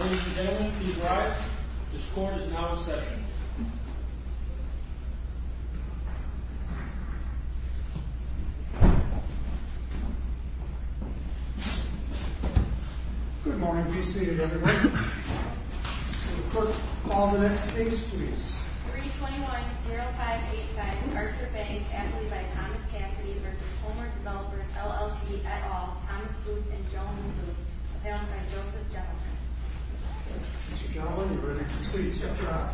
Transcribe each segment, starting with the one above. Ladies and gentlemen, please rise. This court is now in session. Good morning. Be seated, everyone. Will the clerk call the next case, please. 321-0585 Archer Bank v. Homer Developers, LLC, et al., Thomas Booth and Joan Booth, a.k.a. Joseph Joplin. Mr. Joplin, you are ready to proceed. Step to your right.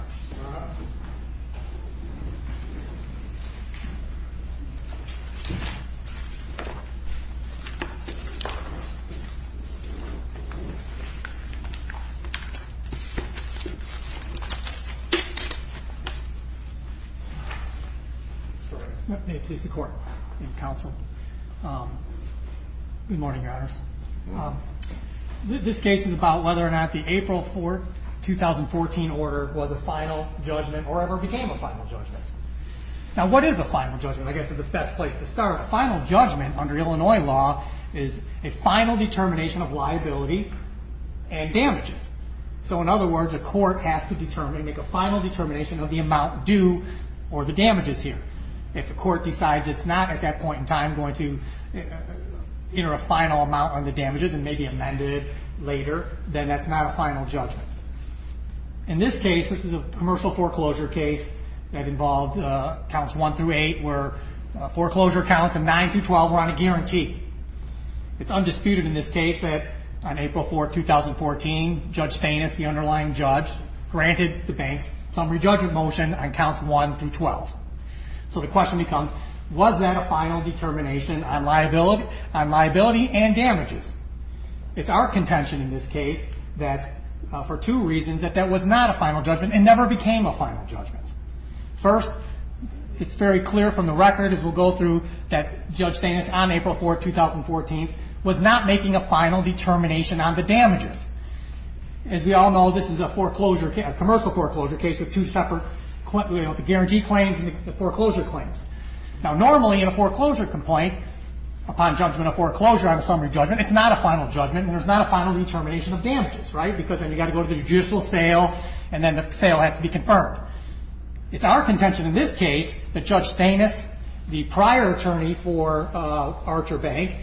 May it please the court and counsel, Good morning, Your Honors. This case is about whether or not the April 4, 2014 order was a final judgment or ever became a final judgment. Now, what is a final judgment? I guess it's the best place to start. A final judgment under Illinois law is a final determination of liability and damages. So, in other words, a court has to make a final determination of the amount due or the damages here. If the court decides it's not at that point in time going to enter a final amount on the damages and maybe amend it later, then that's not a final judgment. In this case, this is a commercial foreclosure case that involved counts 1 through 8, where foreclosure counts of 9 through 12 were on a guarantee. It's undisputed in this case that on April 4, 2014, Judge Stainis, the underlying judge, granted the banks summary judgment motion on counts 1 through 12. So the question becomes, was that a final determination on liability and damages? It's our contention in this case that, for two reasons, that that was not a final judgment and never became a final judgment. First, it's very clear from the record, as we'll go through, that Judge Stainis, on April 4, 2014, was not making a final determination on the damages. As we all know, this is a commercial foreclosure case with two separate guarantee claims and the foreclosure claims. Now, normally in a foreclosure complaint, upon judgment of foreclosure on a summary judgment, it's not a final judgment and there's not a final determination of damages, right? Because then you've got to go to the judicial sale and then the sale has to be confirmed. It's our contention in this case that Judge Stainis, the prior attorney for Archer Bank,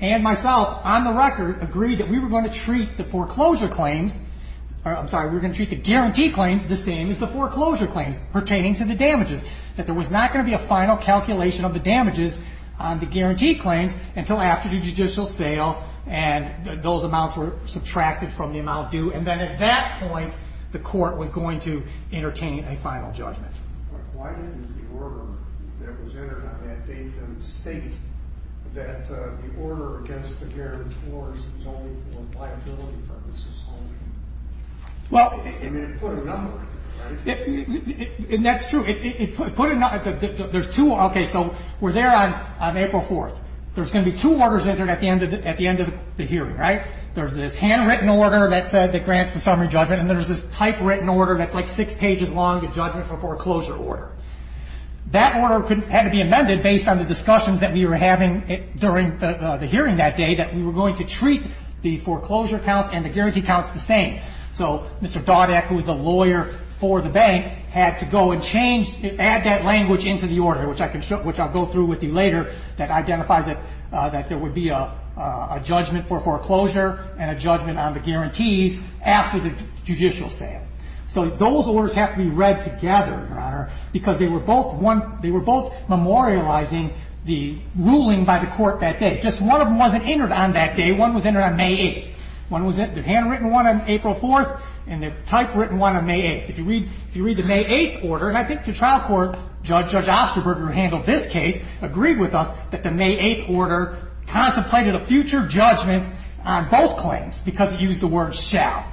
and myself, on the record, agreed that we were going to treat the foreclosure claims – I'm sorry, we were going to treat the guarantee claims the same as the foreclosure claims pertaining to the damages. That there was not going to be a final calculation of the damages on the guarantee claims until after the judicial sale and those amounts were subtracted from the amount due. And then at that point, the court was going to entertain a final judgment. But why didn't the order that was entered on that date state that the order against the guarantors was only for liability purposes only? I mean, it put a number on it, right? That's true. It put a number – there's two – okay, so we're there on April 4th. There's going to be two orders entered at the end of the hearing, right? There's this handwritten order that grants the summary judgment and there's this typewritten order that's like six pages long, the judgment for foreclosure order. That order had to be amended based on the discussions that we were having during the hearing that day that we were going to treat the foreclosure counts and the guarantee counts the same. So Mr. Dodak, who was the lawyer for the bank, had to go and change – add that language into the order, which I'll go through with you later, that identifies that there would be a judgment for foreclosure and a judgment on the guarantees after the judicial sale. So those orders have to be read together, Your Honor, because they were both one – they were both memorializing the ruling by the court that day. Just one of them wasn't entered on that day. One was entered on May 8th. One was – the handwritten one on April 4th and the typewritten one on May 8th. If you read the May 8th order – and I think the trial court judge, Judge Osterberger, who handled this case, agreed with us that the May 8th order contemplated a future judgment on both claims because it used the word shall.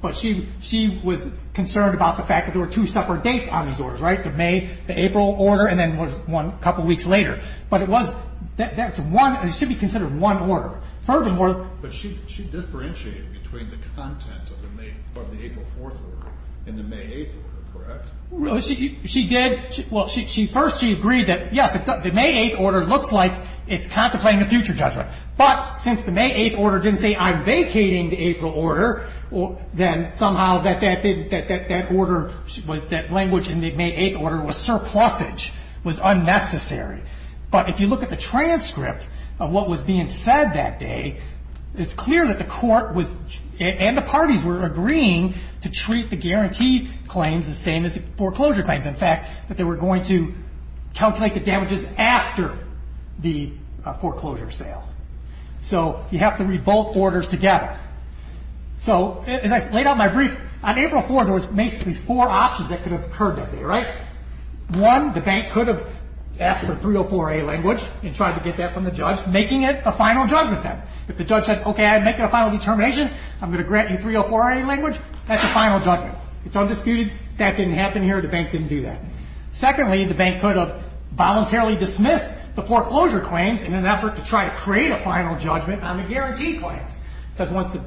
But she was concerned about the fact that there were two separate dates on these orders, right? The May – the April order and then was one – a couple weeks later. But it was – that's one – it should be considered one order. Furthermore – But she differentiated between the content of the May – of the April 4th order and the May 8th order, correct? She did – well, first she agreed that, yes, the May 8th order looks like it's contemplating a future judgment. But since the May 8th order didn't say, I'm vacating the April order, then somehow that order was – that language in the May 8th order was surplusage, was unnecessary. But if you look at the transcript of what was being said that day, it's clear that the court was – the foreclosure claims, in fact, that they were going to calculate the damages after the foreclosure sale. So you have to read both orders together. So as I laid out in my brief, on April 4th there was basically four options that could have occurred that day, right? One, the bank could have asked for 304A language and tried to get that from the judge, making it a final judgment then. If the judge said, okay, I'd make it a final determination, I'm going to grant you 304A language, that's a final judgment. It's undisputed that didn't happen here, the bank didn't do that. Secondly, the bank could have voluntarily dismissed the foreclosure claims in an effort to try to create a final judgment on the guarantee claims. Because once the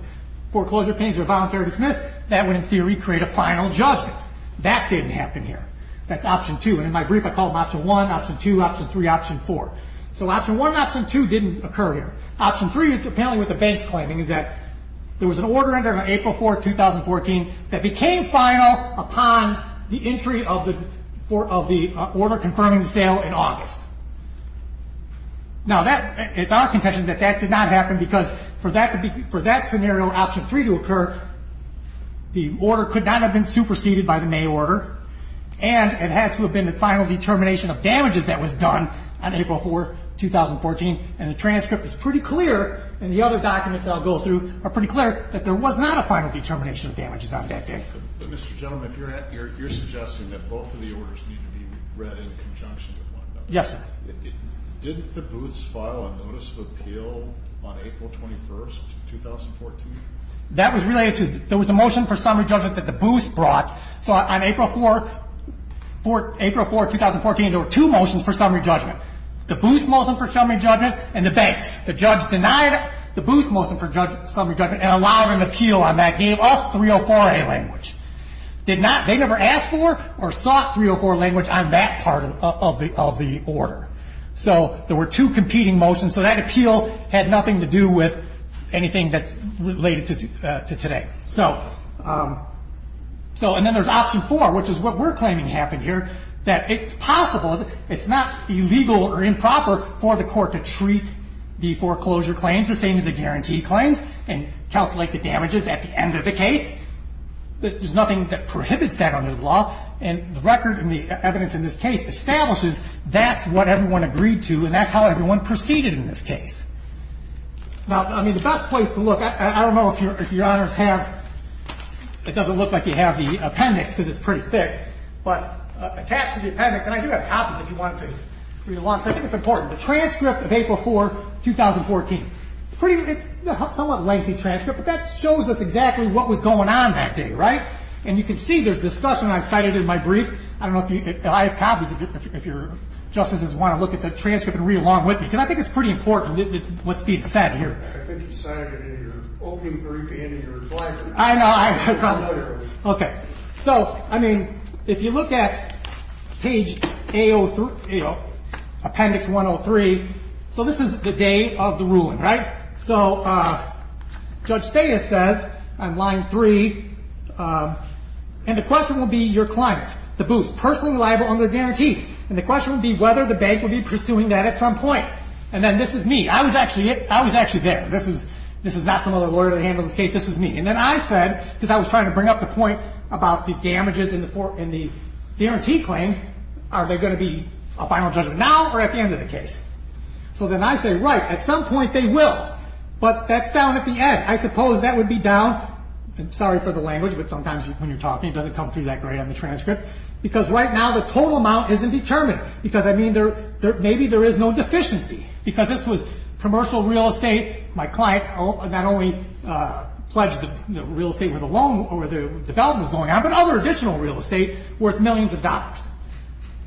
foreclosure claims are voluntarily dismissed, that would, in theory, create a final judgment. That didn't happen here. That's option two. And in my brief, I call them option one, option two, option three, option four. So option one and option two didn't occur here. Option three, apparently what the bank's claiming, is that there was an order in there on April 4th, 2014, that became final upon the entry of the order confirming the sale in August. Now, it's our contention that that did not happen, because for that scenario, option three, to occur, the order could not have been superseded by the May order, and it had to have been the final determination of damages that was done on April 4th, 2014, and the transcript is pretty clear, and the other documents that I'll go through are pretty clear, that there was not a final determination of damages on that day. But, Mr. Gentleman, you're suggesting that both of the orders need to be read in conjunction with one another. Yes, sir. Did the Booths file a notice of appeal on April 21st, 2014? That was related to the motion for summary judgment that the Booths brought. So on April 4th, 2014, there were two motions for summary judgment. The Booths motion for summary judgment and the Banks. The judge denied the Booths motion for summary judgment and allowed an appeal on that, gave us 304A language. They never asked for or sought 304 language on that part of the order. So there were two competing motions, so that appeal had nothing to do with anything that's related to today. So, and then there's option four, which is what we're claiming happened here, that it's possible, it's not illegal or improper for the court to treat the foreclosure claims the same as the guarantee claims and calculate the damages at the end of the case. There's nothing that prohibits that under the law, and the record and the evidence in this case establishes that's what everyone agreed to, and that's how everyone proceeded in this case. Now, I mean, the best place to look, I don't know if Your Honors have, it doesn't look like you have the appendix because it's pretty thick, but attached to the appendix, and I do have copies if you want to read along, so I think it's important, the transcript of April 4, 2014. It's a somewhat lengthy transcript, but that shows us exactly what was going on that day, right? And you can see there's discussion, and I cited it in my brief. I don't know if you, I have copies if your Justices want to look at the transcript and read along with me, because I think it's pretty important what's being said here. I think you cited it in your opening brief and in your reply. I know. Okay. So, I mean, if you look at page A03, appendix 103, so this is the day of the ruling, right? So Judge Stata says on line 3, and the question will be your client, the boost, personally liable under guarantees, and the question will be whether the bank will be pursuing that at some point, and then this is me. I was actually there. This is not some other lawyer that handled this case. This was me. And then I said, because I was trying to bring up the point about the damages and the guarantee claims, are they going to be a final judgment now or at the end of the case? So then I say, right, at some point they will, but that's down at the end. I suppose that would be down, and sorry for the language, but sometimes when you're talking it doesn't come through that great on the transcript, because right now the total amount isn't determined, because, I mean, maybe there is no deficiency, because this was commercial real estate. My client not only pledged that real estate was a loan where the development was going on, but other additional real estate worth millions of dollars.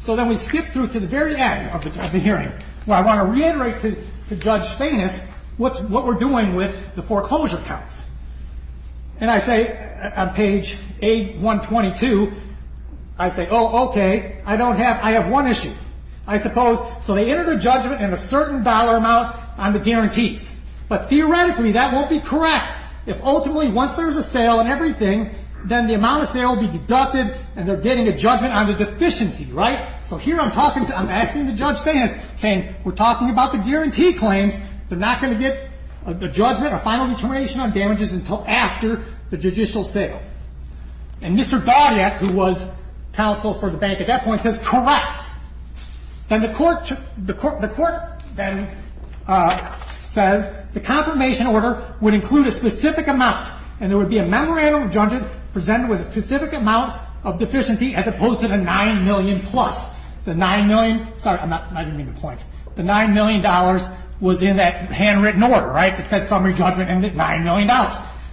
So then we skip through to the very end of the hearing, where I want to reiterate to Judge Stainis what we're doing with the foreclosure counts. And I say on page 8-122, I say, oh, okay, I don't have, I have one issue. I suppose, so they entered a judgment and a certain dollar amount on the guarantees. But theoretically that won't be correct. If ultimately once there's a sale and everything, then the amount of sale will be deducted and they're getting a judgment on the deficiency, right? So here I'm talking to, I'm asking Judge Stainis, saying we're talking about the guarantee claims. They're not going to get a judgment, a final determination on damages until after the judicial sale. And Mr. Dawdyak, who was counsel for the bank at that point, says, correct. Then the court, the court then says the confirmation order would include a specific amount and there would be a memorandum of judgment presented with a specific amount of deficiency as opposed to the $9 million plus. The $9 million, sorry, I didn't mean the point. The $9 million was in that handwritten order, right? It said summary judgment and $9 million.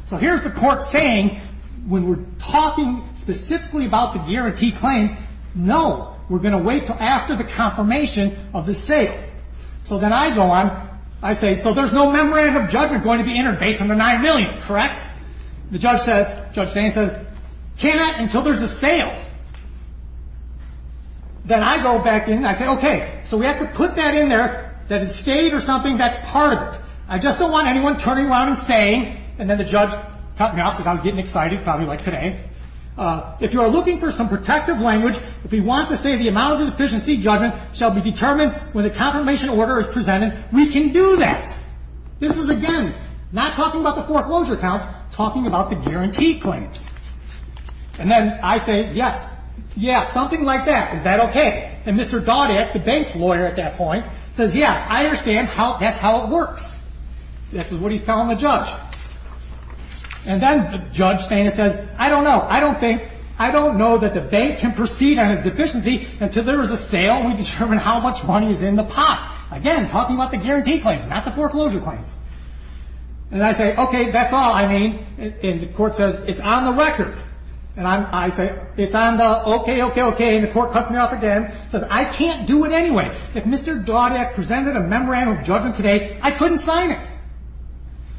So here's the court saying when we're talking specifically about the guarantee claims, no. We're going to wait until after the confirmation of the sale. So then I go on, I say, so there's no memorandum of judgment going to be entered based on the $9 million, correct? The judge says, Judge Stainis says, cannot until there's a sale. Then I go back in and I say, okay, so we have to put that in there, that it's stayed or something, that's part of it. I just don't want anyone turning around and saying, and then the judge cut me off because I was getting excited, probably like today, if you are looking for some protective language, if you want to say the amount of deficiency judgment shall be determined when the confirmation order is presented, we can do that. This is, again, not talking about the foreclosure counts, talking about the guarantee claims. And then I say, yes, yeah, something like that, is that okay? And Mr. Doddick, the bank's lawyer at that point, says, yeah, I understand, that's how it works. This is what he's telling the judge. And then Judge Stainis says, I don't know, I don't think, I don't know that the bank can proceed on a deficiency until there is a sale and we determine how much money is in the pot. Again, talking about the guarantee claims, not the foreclosure claims. And I say, okay, that's all I need. And the court says, it's on the record. And I say, it's on the, okay, okay, okay. And the court cuts me off again, says, I can't do it anyway. If Mr. Doddick presented a memorandum of judgment today, I couldn't sign it.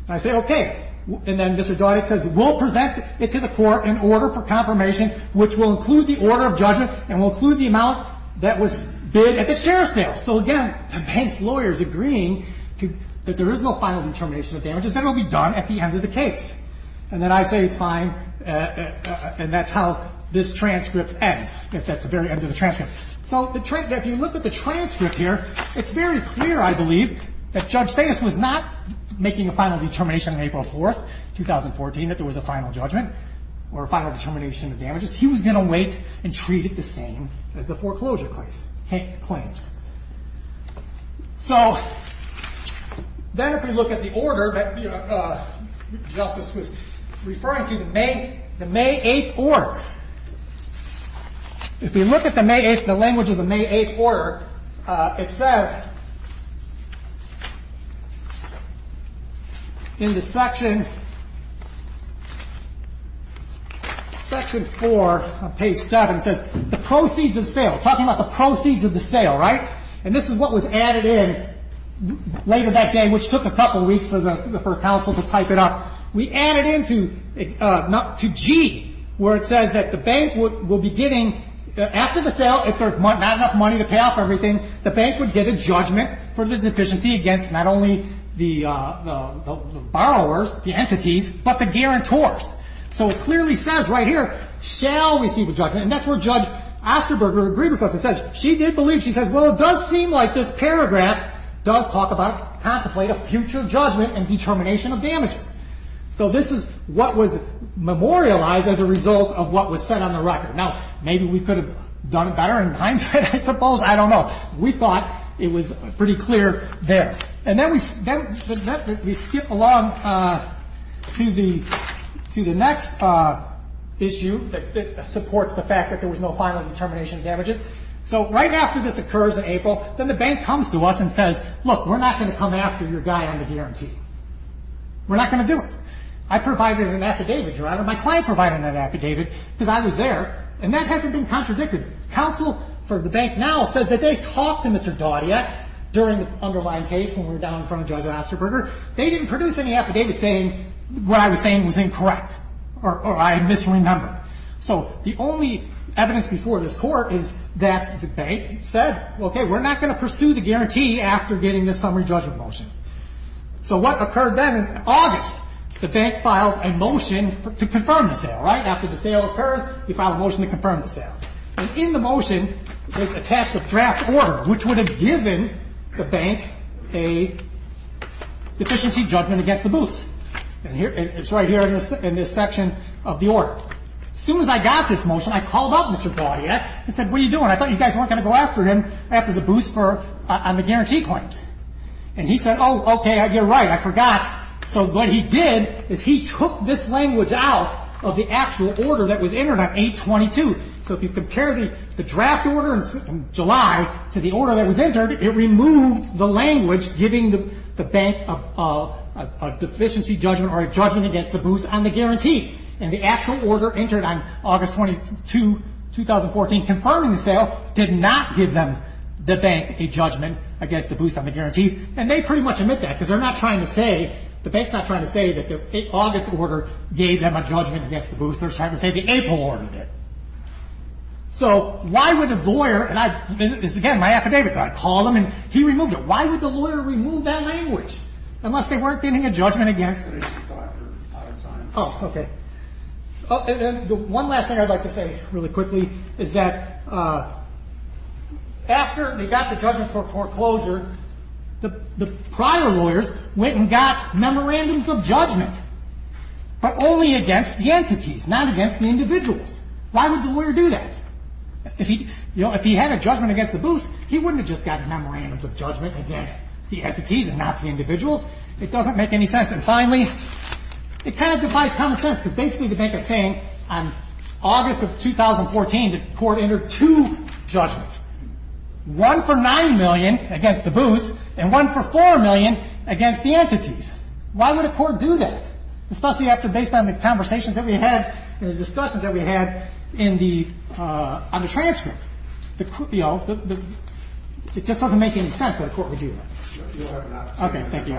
And I say, okay. And then Mr. Doddick says, we'll present it to the court in order for confirmation, which will include the order of judgment and will include the amount that was bid at the sheriff's sale. So again, the bank's lawyer is agreeing that there is no final determination of damages. That will be done at the end of the case. And then I say, it's fine. And that's how this transcript ends, at the very end of the transcript. So if you look at the transcript here, it's very clear, I believe, that Judge Stainis was not making a final determination on April 4th, 2014, that there was a final judgment or a final determination of damages. He was going to wait and treat it the same as the foreclosure claims. So then if we look at the order that Justice was referring to, the May 8th order. If we look at the May 8th, the language of the May 8th order, it says in the section, section 4 on page 7, it says the proceeds of sale. Talking about the proceeds of the sale, right? And this is what was added in later that day, which took a couple of weeks for counsel to type it up. We added in to G, where it says that the bank will be getting, after the sale, if there's not enough money to pay off everything, the bank would get a judgment for the deficiency against not only the borrowers, the entities, but the guarantors. So it clearly says right here, shall receive a judgment. And that's where Judge Osterberger agreed with us. It says she did believe, she says, well, it does seem like this paragraph does talk about, contemplate a future judgment and determination of damages. So this is what was memorialized as a result of what was said on the record. Now, maybe we could have done it better in hindsight, I suppose. I don't know. We thought it was pretty clear there. And then we skip along to the next issue that supports the fact that there was no final determination of damages. So right after this occurs in April, then the bank comes to us and says, look, we're not going to come after your guy on the guarantee. We're not going to do it. I provided an affidavit. My client provided an affidavit because I was there. And that hasn't been contradicted. Counsel for the bank now says that they talked to Mr. Daudia during the underlying case when we were down in front of Judge Osterberger. They didn't produce any affidavit saying what I was saying was incorrect or I misremembered. So the only evidence before this Court is that the bank said, okay, we're not going to pursue the guarantee after getting this summary judgment motion. So what occurred then in August? The bank files a motion to confirm the sale, right? After the sale occurs, they file a motion to confirm the sale. And in the motion, they attach the draft order, which would have given the bank a deficiency judgment against the booths. And it's right here in this section of the order. As soon as I got this motion, I called up Mr. Daudia and said, what are you doing? I thought you guys weren't going to go after him after the booths on the guarantee claims. And he said, oh, okay, you're right, I forgot. So what he did is he took this language out of the actual order that was entered on 822. So if you compare the draft order in July to the order that was entered, it removed the language giving the bank a deficiency judgment or a judgment against the booths on the guarantee. And the actual order entered on August 22, 2014, confirming the sale, did not give them, the bank, a judgment against the booths on the guarantee. And they pretty much admit that because they're not trying to say, the bank's not trying to say that the August order gave them a judgment against the booths. They're trying to say the April order did. So why would a lawyer, and this is again my affidavit, but I called him and he removed it. Why would the lawyer remove that language? Unless they weren't getting a judgment against it. Oh, okay. One last thing I'd like to say really quickly is that after they got the judgment for foreclosure, the prior lawyers went and got memorandums of judgment, but only against the entities, not against the individuals. Why would the lawyer do that? If he had a judgment against the booths, he wouldn't have just gotten memorandums of judgment against the entities and not the individuals. It doesn't make any sense. And finally, it kind of defies common sense because basically the bank is saying on August of 2014, the court entered two judgments, one for $9 million against the booths and one for $4 million against the entities. Why would a court do that? Especially after based on the conversations that we had and the discussions that we had on the transcript. It just doesn't make any sense that a court would do that. Okay, thank you.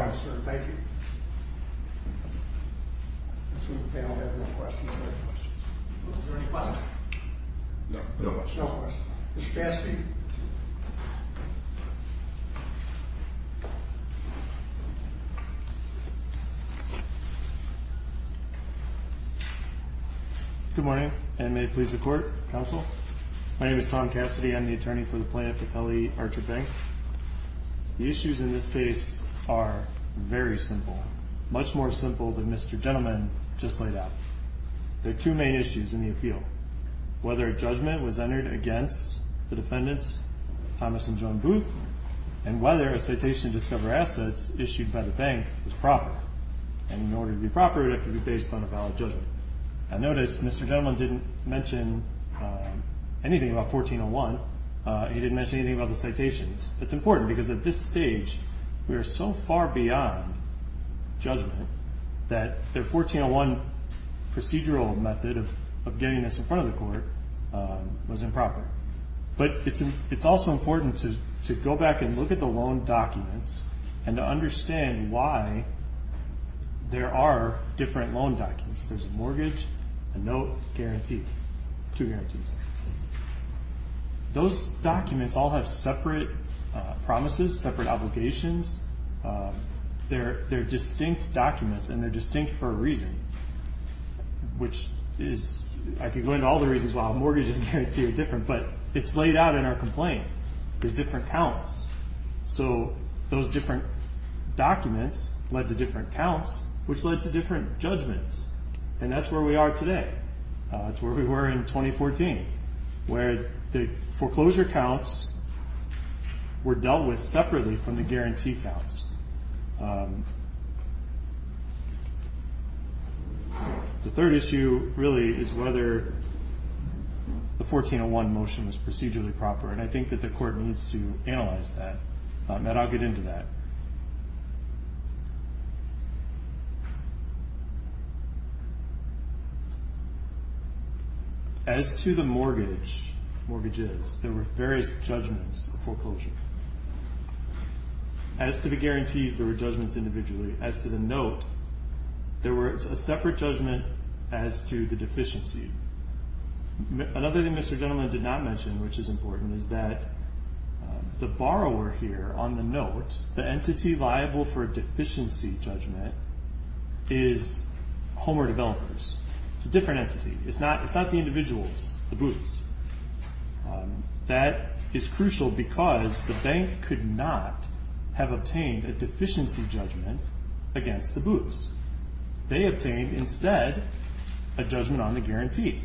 Good morning, and may it please the court, counsel. My name is Tom Cassidy. I'm the attorney for the plaintiff, Kelly Archer Bank. The issues in this case are very simple, much more simple than Mr. Gentleman just laid out. There are two main issues in the appeal, whether a judgment was entered against the defendants, Thomas and Joan Booth, and whether a citation to discover assets issued by the bank was proper. And in order to be proper, it has to be based on a valid judgment. I notice Mr. Gentleman didn't mention anything about 1401. He didn't mention anything about the citations. It's important because at this stage, we are so far beyond judgment that the 1401 procedural method of getting this in front of the court was improper. But it's also important to go back and look at the loan documents and to understand why there are different loan documents. There's a mortgage, a note, guarantee, two guarantees. Those documents all have separate promises, separate obligations. They're distinct documents, and they're distinct for a reason, which is – I could go into all the reasons why a mortgage and guarantee are different, but it's laid out in our complaint. There's different counts. So those different documents led to different counts, which led to different judgments. And that's where we are today. That's where we were in 2014, where the foreclosure counts were dealt with separately from the guarantee counts. The third issue really is whether the 1401 motion was procedurally proper, and I think that the court needs to analyze that. Matt, I'll get into that. As to the mortgage, mortgages, there were various judgments of foreclosure. As to the guarantees, there were judgments individually. As to the note, there was a separate judgment as to the deficiency. Another thing Mr. Gentleman did not mention, which is important, is that the borrower here on the note, the entity liable for a deficiency judgment, is Homeware Developers. It's a different entity. It's not the individuals, the booths. That is crucial because the bank could not have obtained a deficiency judgment against the booths. They obtained, instead, a judgment on the guarantee.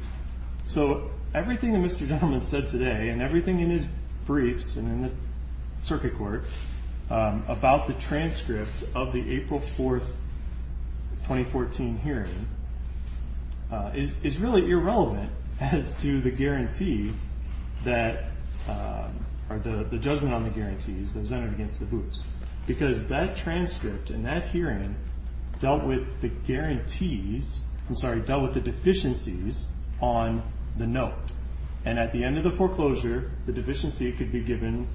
So everything that Mr. Gentleman said today, and everything in his briefs and in the circuit court, about the transcript of the April 4, 2014 hearing, is really irrelevant as to the guarantee that, or the judgment on the guarantees that was entered against the booths. Because that transcript and that hearing dealt with the guarantees, I'm sorry, dealt with the deficiencies on the note. And at the end of the foreclosure, the deficiency could be given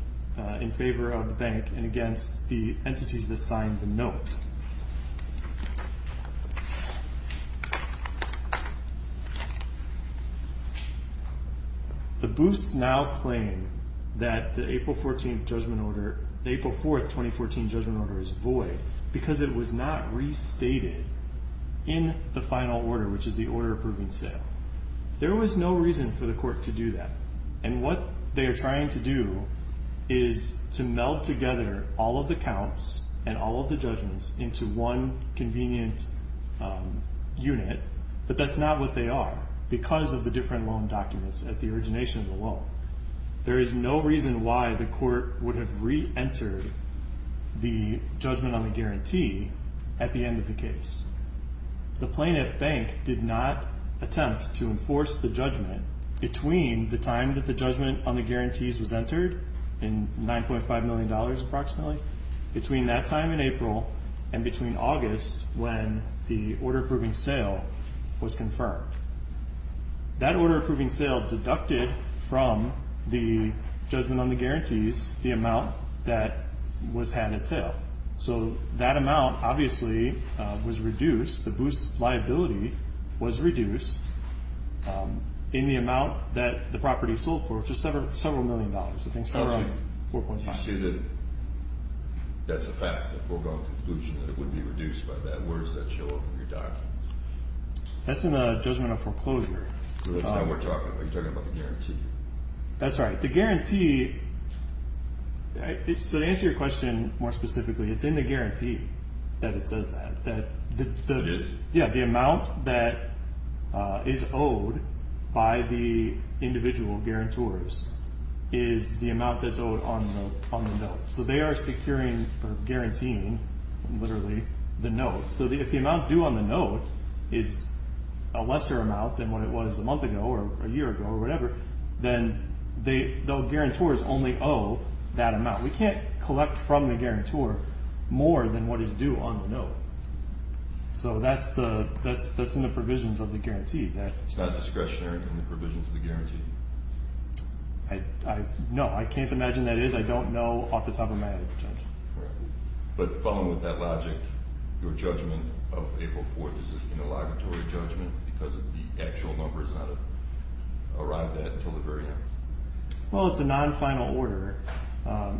in favor of the bank and against the entities that signed the note. The booths now claim that the April 4, 2014 judgment order is void because it was not restated in the final order, which is the order approving sale. There was no reason for the court to do that. And what they are trying to do is to meld together all of the counts and all of the judgments into one convenient unit, but that's not what they are, because of the different loan documents at the origination of the loan. There is no reason why the court would have re-entered the judgment on the guarantee at the end of the case. The plaintiff bank did not attempt to enforce the judgment between the time that the judgment on the guarantees was entered, in $9.5 million approximately, between that time in April and between August when the order approving sale was confirmed. That order approving sale deducted from the judgment on the guarantees the amount that was had at sale. So that amount, obviously, was reduced. The booths' liability was reduced in the amount that the property sold for, which was several million dollars. I think several, 4.5. You say that that's a fact, the foregone conclusion that it would be reduced by that. Where does that show up in your document? That's in the judgment of foreclosure. That's not what we're talking about. You're talking about the guarantee. That's right. The guarantee, so to answer your question more specifically, it's in the guarantee that it says that. Yes. Yeah, the amount that is owed by the individual guarantors is the amount that's owed on the note. So they are securing or guaranteeing, literally, the note. So if the amount due on the note is a lesser amount than what it was a month ago or a year ago or whatever, then the guarantors only owe that amount. We can't collect from the guarantor more than what is due on the note. So that's in the provisions of the guarantee. It's not discretionary in the provisions of the guarantee? No. I can't imagine that is. I don't know off the top of my head. But following with that logic, your judgment of April 4th, because of the actual numbers that have arrived at until the very end? Well, it's a non-final order.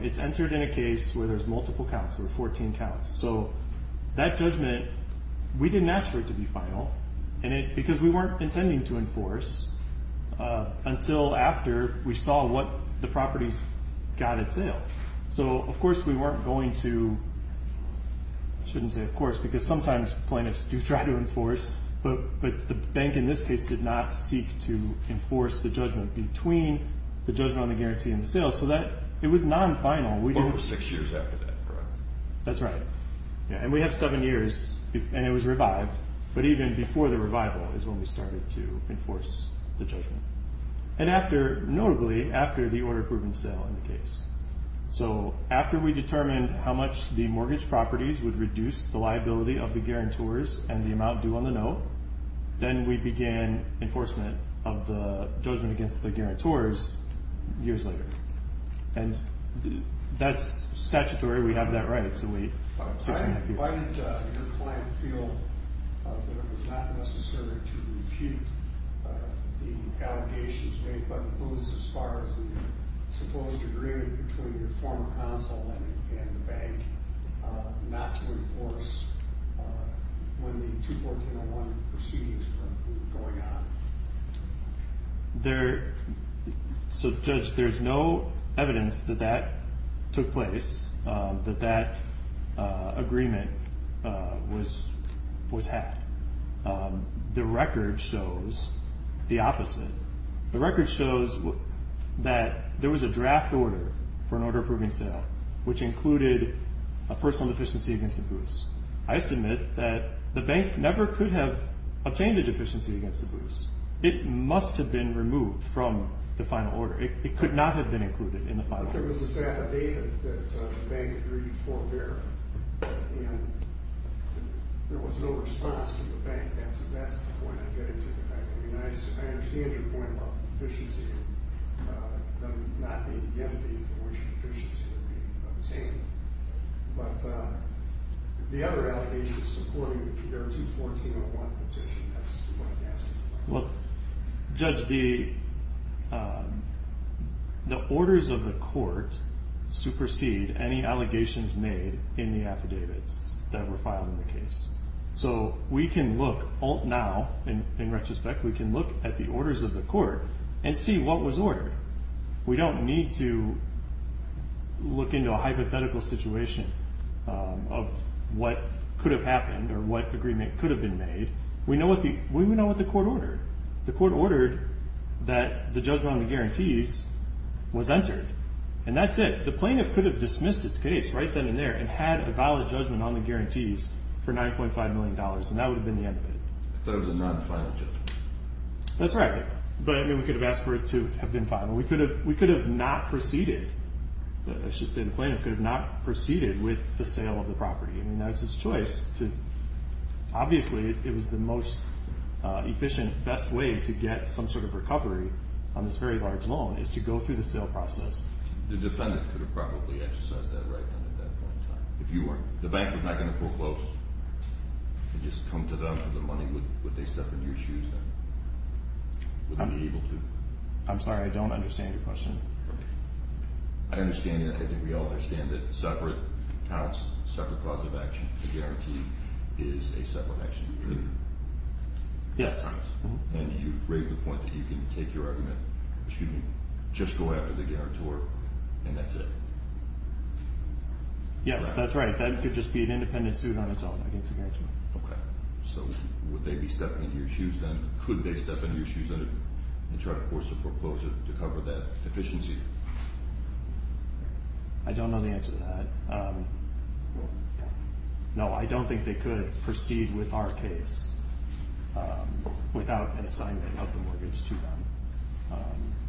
It's entered in a case where there's multiple counts, so 14 counts. So that judgment, we didn't ask for it to be final because we weren't intending to enforce until after we saw what the properties got at sale. So, of course, we weren't going to. I shouldn't say, of course, because sometimes plaintiffs do try to enforce, but the bank in this case did not seek to enforce the judgment between the judgment on the guarantee and the sale. So it was non-final. Well, it was six years after that, correct? That's right. And we have seven years, and it was revived. But even before the revival is when we started to enforce the judgment, and notably after the order-proven sale in the case. So after we determined how much the mortgage properties would reduce the liability of the guarantors and the amount due on the note, then we began enforcement of the judgment against the guarantors years later. And that's statutory. We have that right. Why did your client feel that it was not necessary to refute the allegations made by the Booth as far as the supposed agreement between your former consul and the bank not to enforce when the 2-4-10-0-1 proceedings were going on? So, Judge, there's no evidence that that took place, that that agreement was had. The record shows the opposite. The record shows that there was a draft order for an order-approving sale, which included a personal deficiency against the Booths. I submit that the bank never could have obtained a deficiency against the Booths. It must have been removed from the final order. It could not have been included in the final order. There was a set of data that the bank agreed for there, and there was no response from the bank. That's the point I'm getting to. I mean, I understand your point about the deficiency not being the entity from which the deficiency would be obtained. But the other allegations supporting the 2-4-10-0-1 petition, that's what I'm asking about. Well, Judge, the orders of the court supersede any allegations made in the affidavits that were filed in the case. So we can look now, in retrospect, we can look at the orders of the court and see what was ordered. We don't need to look into a hypothetical situation of what could have happened or what agreement could have been made. We know what the court ordered. The court ordered that the judgment on the guarantees was entered, and that's it. The plaintiff could have dismissed its case right then and there and had a valid judgment on the guarantees for $9.5 million, and that would have been the end of it. I thought it was a non-final judgment. That's right. But, I mean, we could have asked for it to have been final. We could have not proceeded. I should say the plaintiff could have not proceeded with the sale of the property. I mean, that was his choice. Obviously, it was the most efficient, best way to get some sort of recovery on this very large loan is to go through the sale process. The defendant could have probably exercised that right then at that point in time, if you weren't. The bank was not going to foreclose. It would just come to them for the money. Would they step into your shoes then? Would they be able to? I'm sorry, I don't understand your question. I understand that. I think we all understand that separate accounts, separate cause of action, a guarantee is a separate action. Yes. And you've raised the point that you can take your argument, excuse me, just go after the guarantor, and that's it. Yes, that's right. That could just be an independent suit on its own against the guarantor. Okay. So would they be stepping into your shoes then? Could they step into your shoes then and try to force a foreclosure to cover that deficiency? I don't know the answer to that. No, I don't think they could proceed with our case without an assignment of the mortgage to them.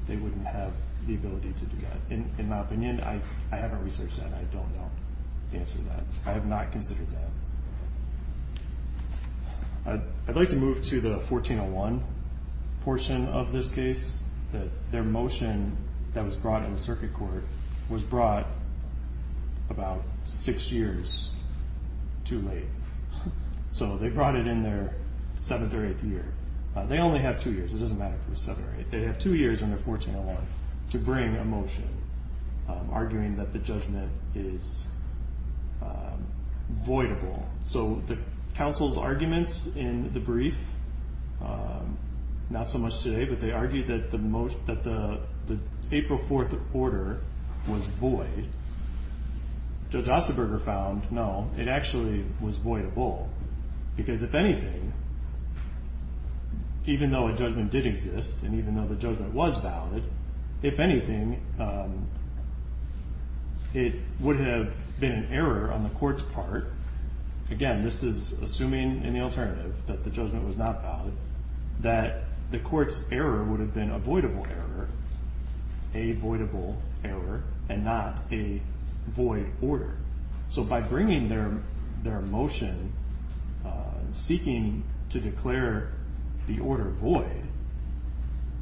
They wouldn't have the ability to do that. In my opinion, I haven't researched that. I don't know the answer to that. I have not considered that. I'd like to move to the 1401 portion of this case. Their motion that was brought in the circuit court was brought about six years too late. So they brought it in their seventh or eighth year. They only have two years. It doesn't matter if it was seventh or eighth. They have two years in their 1401 to bring a motion arguing that the judgment is voidable. So the counsel's arguments in the brief, not so much today, but they argued that the April 4th order was void. Judge Osterberger found, no, it actually was voidable because, if anything, even though a judgment did exist and even though the judgment was valid, if anything, it would have been an error on the court's part. Again, this is assuming, in the alternative, that the judgment was not valid, that the court's error would have been a voidable error, a voidable error, and not a void order. So by bringing their motion seeking to declare the order void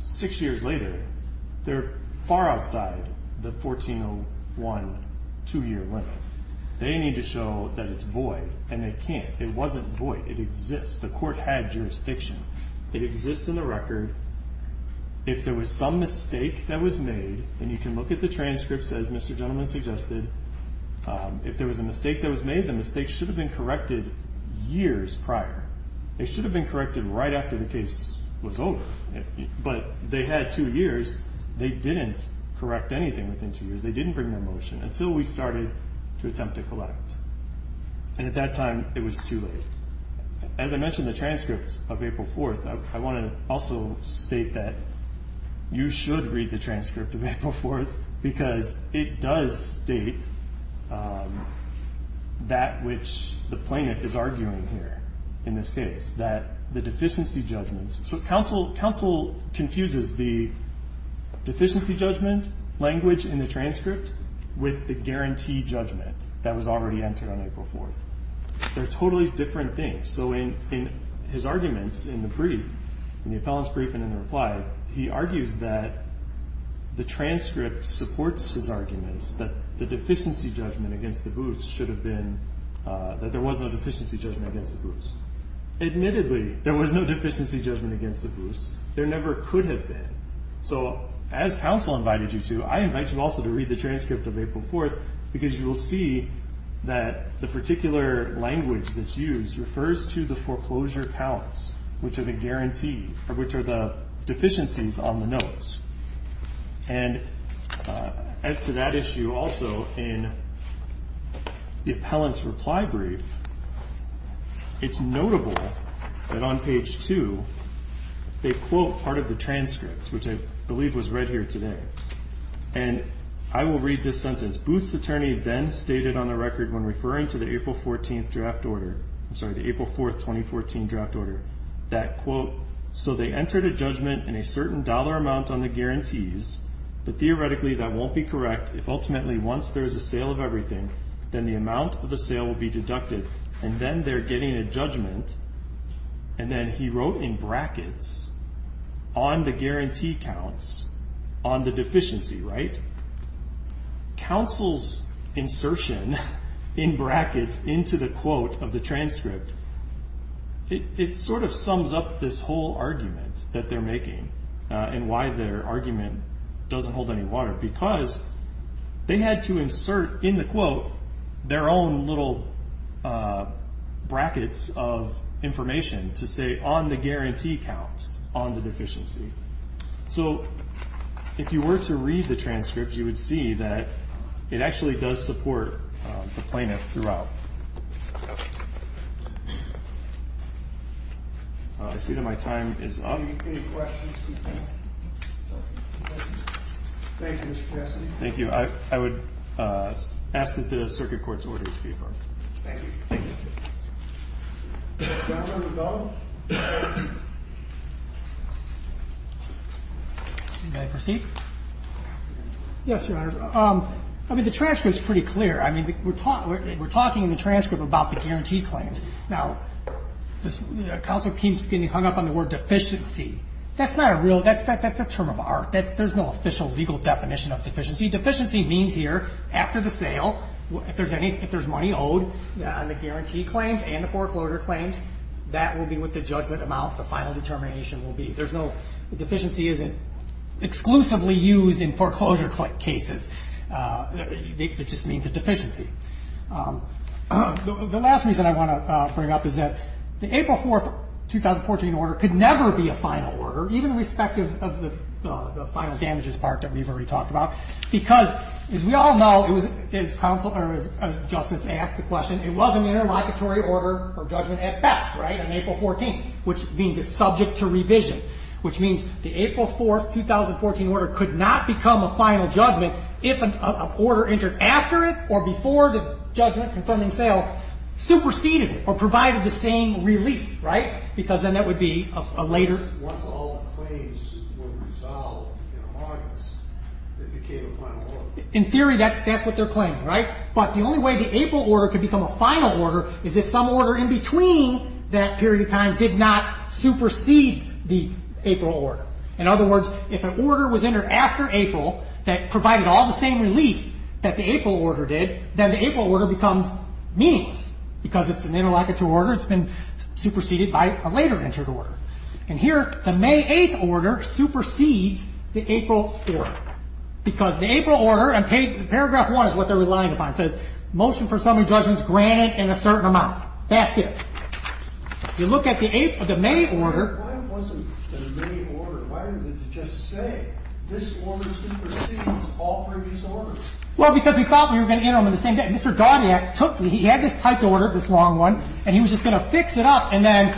six years later, they're far outside the 1401 two-year limit. They need to show that it's void, and they can't. It wasn't void. It exists. The court had jurisdiction. It exists in the record. If there was some mistake that was made, and you can look at the transcripts, as Mr. Gentleman suggested, if there was a mistake that was made, the mistake should have been corrected years prior. It should have been corrected right after the case was over. But they had two years. They didn't correct anything within two years. They didn't bring their motion until we started to attempt to collect. And at that time, it was too late. As I mentioned the transcripts of April 4th, I want to also state that you should read the transcript of April 4th because it does state that which the plaintiff is arguing here in this case, that the deficiency judgments. So counsel confuses the deficiency judgment language in the transcript with the guarantee judgment that was already entered on April 4th. They're totally different things. So in his arguments in the brief, in the appellant's brief and in the reply, he argues that the transcript supports his arguments that the deficiency judgment against the Booths should have been that there was no deficiency judgment against the Booths. Admittedly, there was no deficiency judgment against the Booths. There never could have been. So as counsel invited you to, I invite you also to read the transcript of April 4th because you will see that the particular language that's used refers to the foreclosure counts, which are the deficiencies on the notes. And as to that issue also in the appellant's reply brief, it's notable that on page 2 they quote part of the transcript, which I believe was read here today. And I will read this sentence. This Booth's attorney then stated on the record when referring to the April 14th draft order, I'm sorry, the April 4th, 2014 draft order, that quote, so they entered a judgment in a certain dollar amount on the guarantees, but theoretically that won't be correct if ultimately once there is a sale of everything, then the amount of the sale will be deducted, and then they're getting a judgment, and then he wrote in brackets on the guarantee counts on the deficiency, right? Counsel's insertion in brackets into the quote of the transcript, it sort of sums up this whole argument that they're making and why their argument doesn't hold any water, because they had to insert in the quote their own little brackets of information to say on the guarantee counts on the deficiency. So if you were to read the transcript, you would see that it actually does support the plaintiff throughout. I see that my time is up. Any questions? Thank you, Mr. Cassidy. Thank you. I would ask that the circuit court's orders be affirmed. Thank you. Thank you. Counsel, you may go. May I proceed? Yes, Your Honors. I mean, the transcript is pretty clear. I mean, we're talking in the transcript about the guarantee claims. Now, counsel keeps getting hung up on the word deficiency. That's not a real ‑‑ that's a term of art. There's no official legal definition of deficiency. Deficiency means here, after the sale, if there's money owed on the guarantee claims and the foreclosure claims, that will be what the judgment amount, the final determination will be. There's no ‑‑ deficiency isn't exclusively used in foreclosure cases. It just means a deficiency. The last reason I want to bring up is that the April 4, 2014 order could never be a final order, even with respect to the final damages part that we've already talked about, because, as we all know, as counsel ‑‑ or as justice asked the question, it was an interlocutory order or judgment at best, right, on April 14, which means it's subject to revision, which means the April 4, 2014 order could not become a final judgment if an order entered after it or before the judgment confirming sale superseded it or provided the same relief, right, because then that would be a later ‑‑ In theory, that's what they're claiming, right? But the only way the April order could become a final order is if some order in between that period of time did not supersede the April order. In other words, if an order was entered after April that provided all the same relief that the April order did, then the April order becomes meaningless because it's an interlocutory order. It's been superseded by a later entered order. And here, the May 8 order supersedes the April order because the April order and paragraph 1 is what they're relying upon. It says motion for summary judgments granted in a certain amount. That's it. You look at the May order. Why wasn't the May order? Why didn't they just say this order supersedes all previous orders? Well, because we thought we were going to enter them in the same day. He had this typed order, this long one, and he was just going to fix it up. And then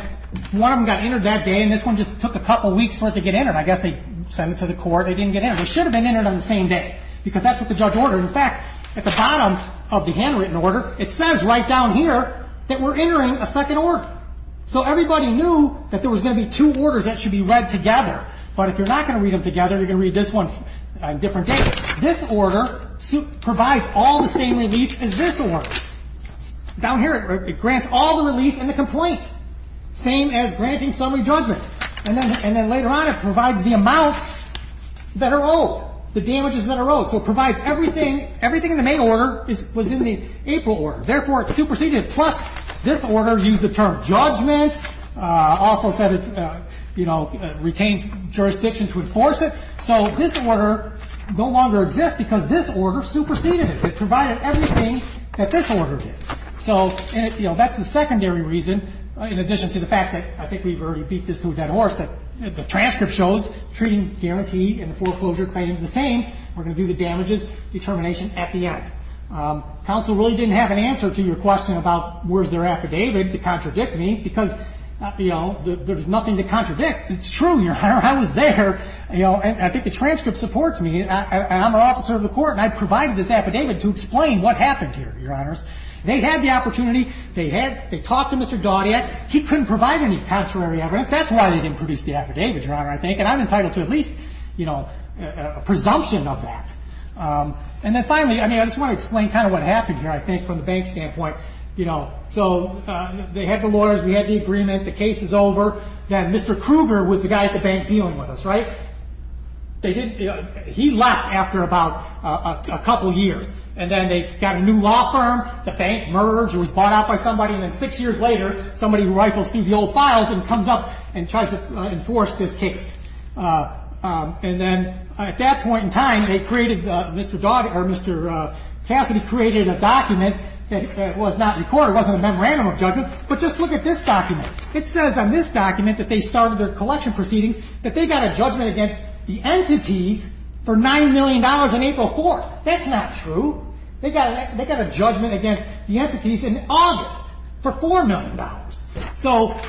one of them got entered that day, and this one just took a couple weeks for it to get entered. I guess they sent it to the court. They didn't get it. It should have been entered on the same day because that's what the judge ordered. In fact, at the bottom of the handwritten order, it says right down here that we're entering a second order. So everybody knew that there was going to be two orders that should be read together. But if you're not going to read them together, you're going to read this one on different days. This order provides all the same relief as this order. Down here, it grants all the relief in the complaint, same as granting summary judgment. And then later on, it provides the amounts that are owed, the damages that are owed. So it provides everything. Everything in the May order was in the April order. Therefore, it superseded it. Plus, this order used the term judgment, also said it retains jurisdiction to enforce it. So this order no longer exists because this order superseded it. It provided everything that this order did. So that's the secondary reason, in addition to the fact that I think we've already beat this to a dead horse, that the transcript shows treating guarantee and foreclosure claims the same. We're going to do the damages determination at the end. Counsel really didn't have an answer to your question about where's their affidavit to contradict me because there's nothing to contradict. It's true. I was there. I think the transcript supports me. I'm an officer of the court, and I provided this affidavit to explain what happened here, Your Honors. They had the opportunity. They talked to Mr. Daudet. He couldn't provide any contrary evidence. That's why they didn't produce the affidavit, Your Honor, I think. And I'm entitled to at least a presumption of that. And then finally, I just want to explain kind of what happened here, I think, from the bank standpoint. So they had the lawyers. We had the agreement. The case is over. Then Mr. Kruger was the guy at the bank dealing with us, right? He left after about a couple years. And then they got a new law firm. The bank merged or was bought out by somebody. And then six years later, somebody rifles through the old files and comes up and tries to enforce this case. And then at that point in time, they created Mr. Daudet or Mr. Cassidy created a document that was not in court. It wasn't a memorandum of judgment. But just look at this document. It says on this document that they started their collection proceedings, that they got a judgment against the entities for $9 million on April 4th. That's not true. They got a judgment against the entities in August for $4 million. So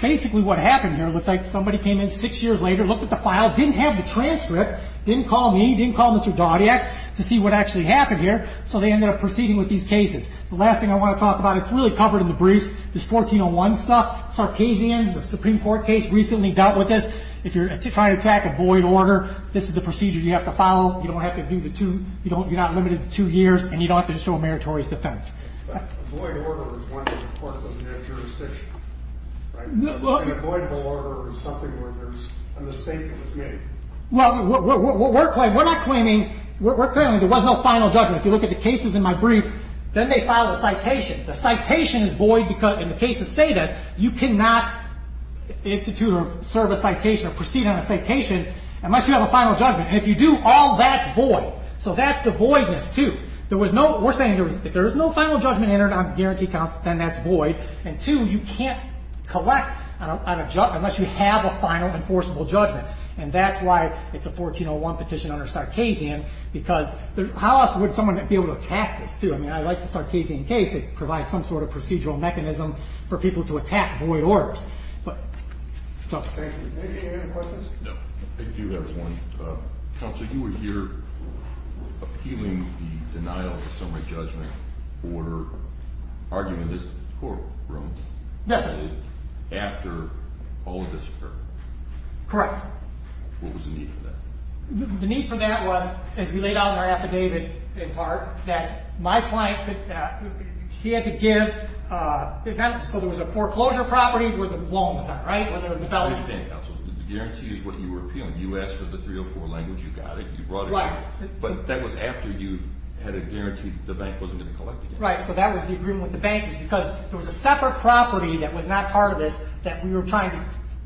basically what happened here looks like somebody came in six years later, looked at the file, didn't have the transcript, didn't call me, didn't call Mr. Daudet to see what actually happened here. So they ended up proceeding with these cases. The last thing I want to talk about, it's really covered in the briefs, this 1401 stuff, Sarkisian, the Supreme Court case recently dealt with this. If you're trying to attack a void order, this is the procedure you have to follow. You don't have to do the two. You're not limited to two years, and you don't have to show a meritorious defense. But a void order is one part of that jurisdiction, right? An avoidable order is something where there's a mistake that was made. Well, we're claiming there was no final judgment. If you look at the cases in my brief, then they file a citation. The citation is void, and the cases say this. You cannot institute or serve a citation or proceed on a citation unless you have a final judgment. And if you do, all that's void. So that's the voidness, too. We're saying if there is no final judgment entered on guarantee counts, then that's void. And, two, you can't collect on a judgment unless you have a final enforceable judgment. And that's why it's a 1401 petition under Sarkisian because how else would someone be able to attack this, too? I mean, I like the Sarkisian case. It provides some sort of procedural mechanism for people to attack void orders. Thank you. Any other questions? No. Thank you, everyone. Counsel, you were here appealing the denial of the summary judgment order argument in this courtroom. Yes, sir. After all of this occurred. Correct. What was the need for that? The need for that was, as we laid out in our affidavit in part, that my client had to give—so there was a foreclosure property where the loan was on, right? I understand, counsel. The guarantee is what you were appealing. You asked for the 304 language. You got it. You brought it in. Right. But that was after you had a guarantee that the bank wasn't going to collect again. Right. So that was the agreement with the bank because there was a separate property that was not part of this that we were trying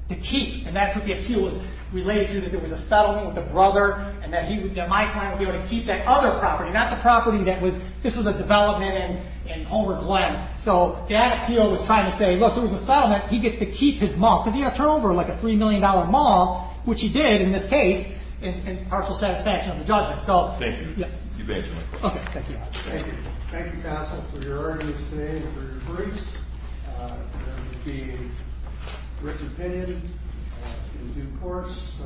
to keep. And that's what the appeal was related to, that there was a settlement with a brother and that my client would be able to keep that other property, not the property that was—this was a development in Homer Glen. So that appeal was trying to say, look, there was a settlement. He gets to keep his mall because he had to turn over, like, a $3 million mall, which he did in this case in partial satisfaction of the judgment. Thank you. You bet. Okay. Thank you. Thank you. Thank you, counsel, for your arguments today and for your briefs. There will be a written opinion in due course.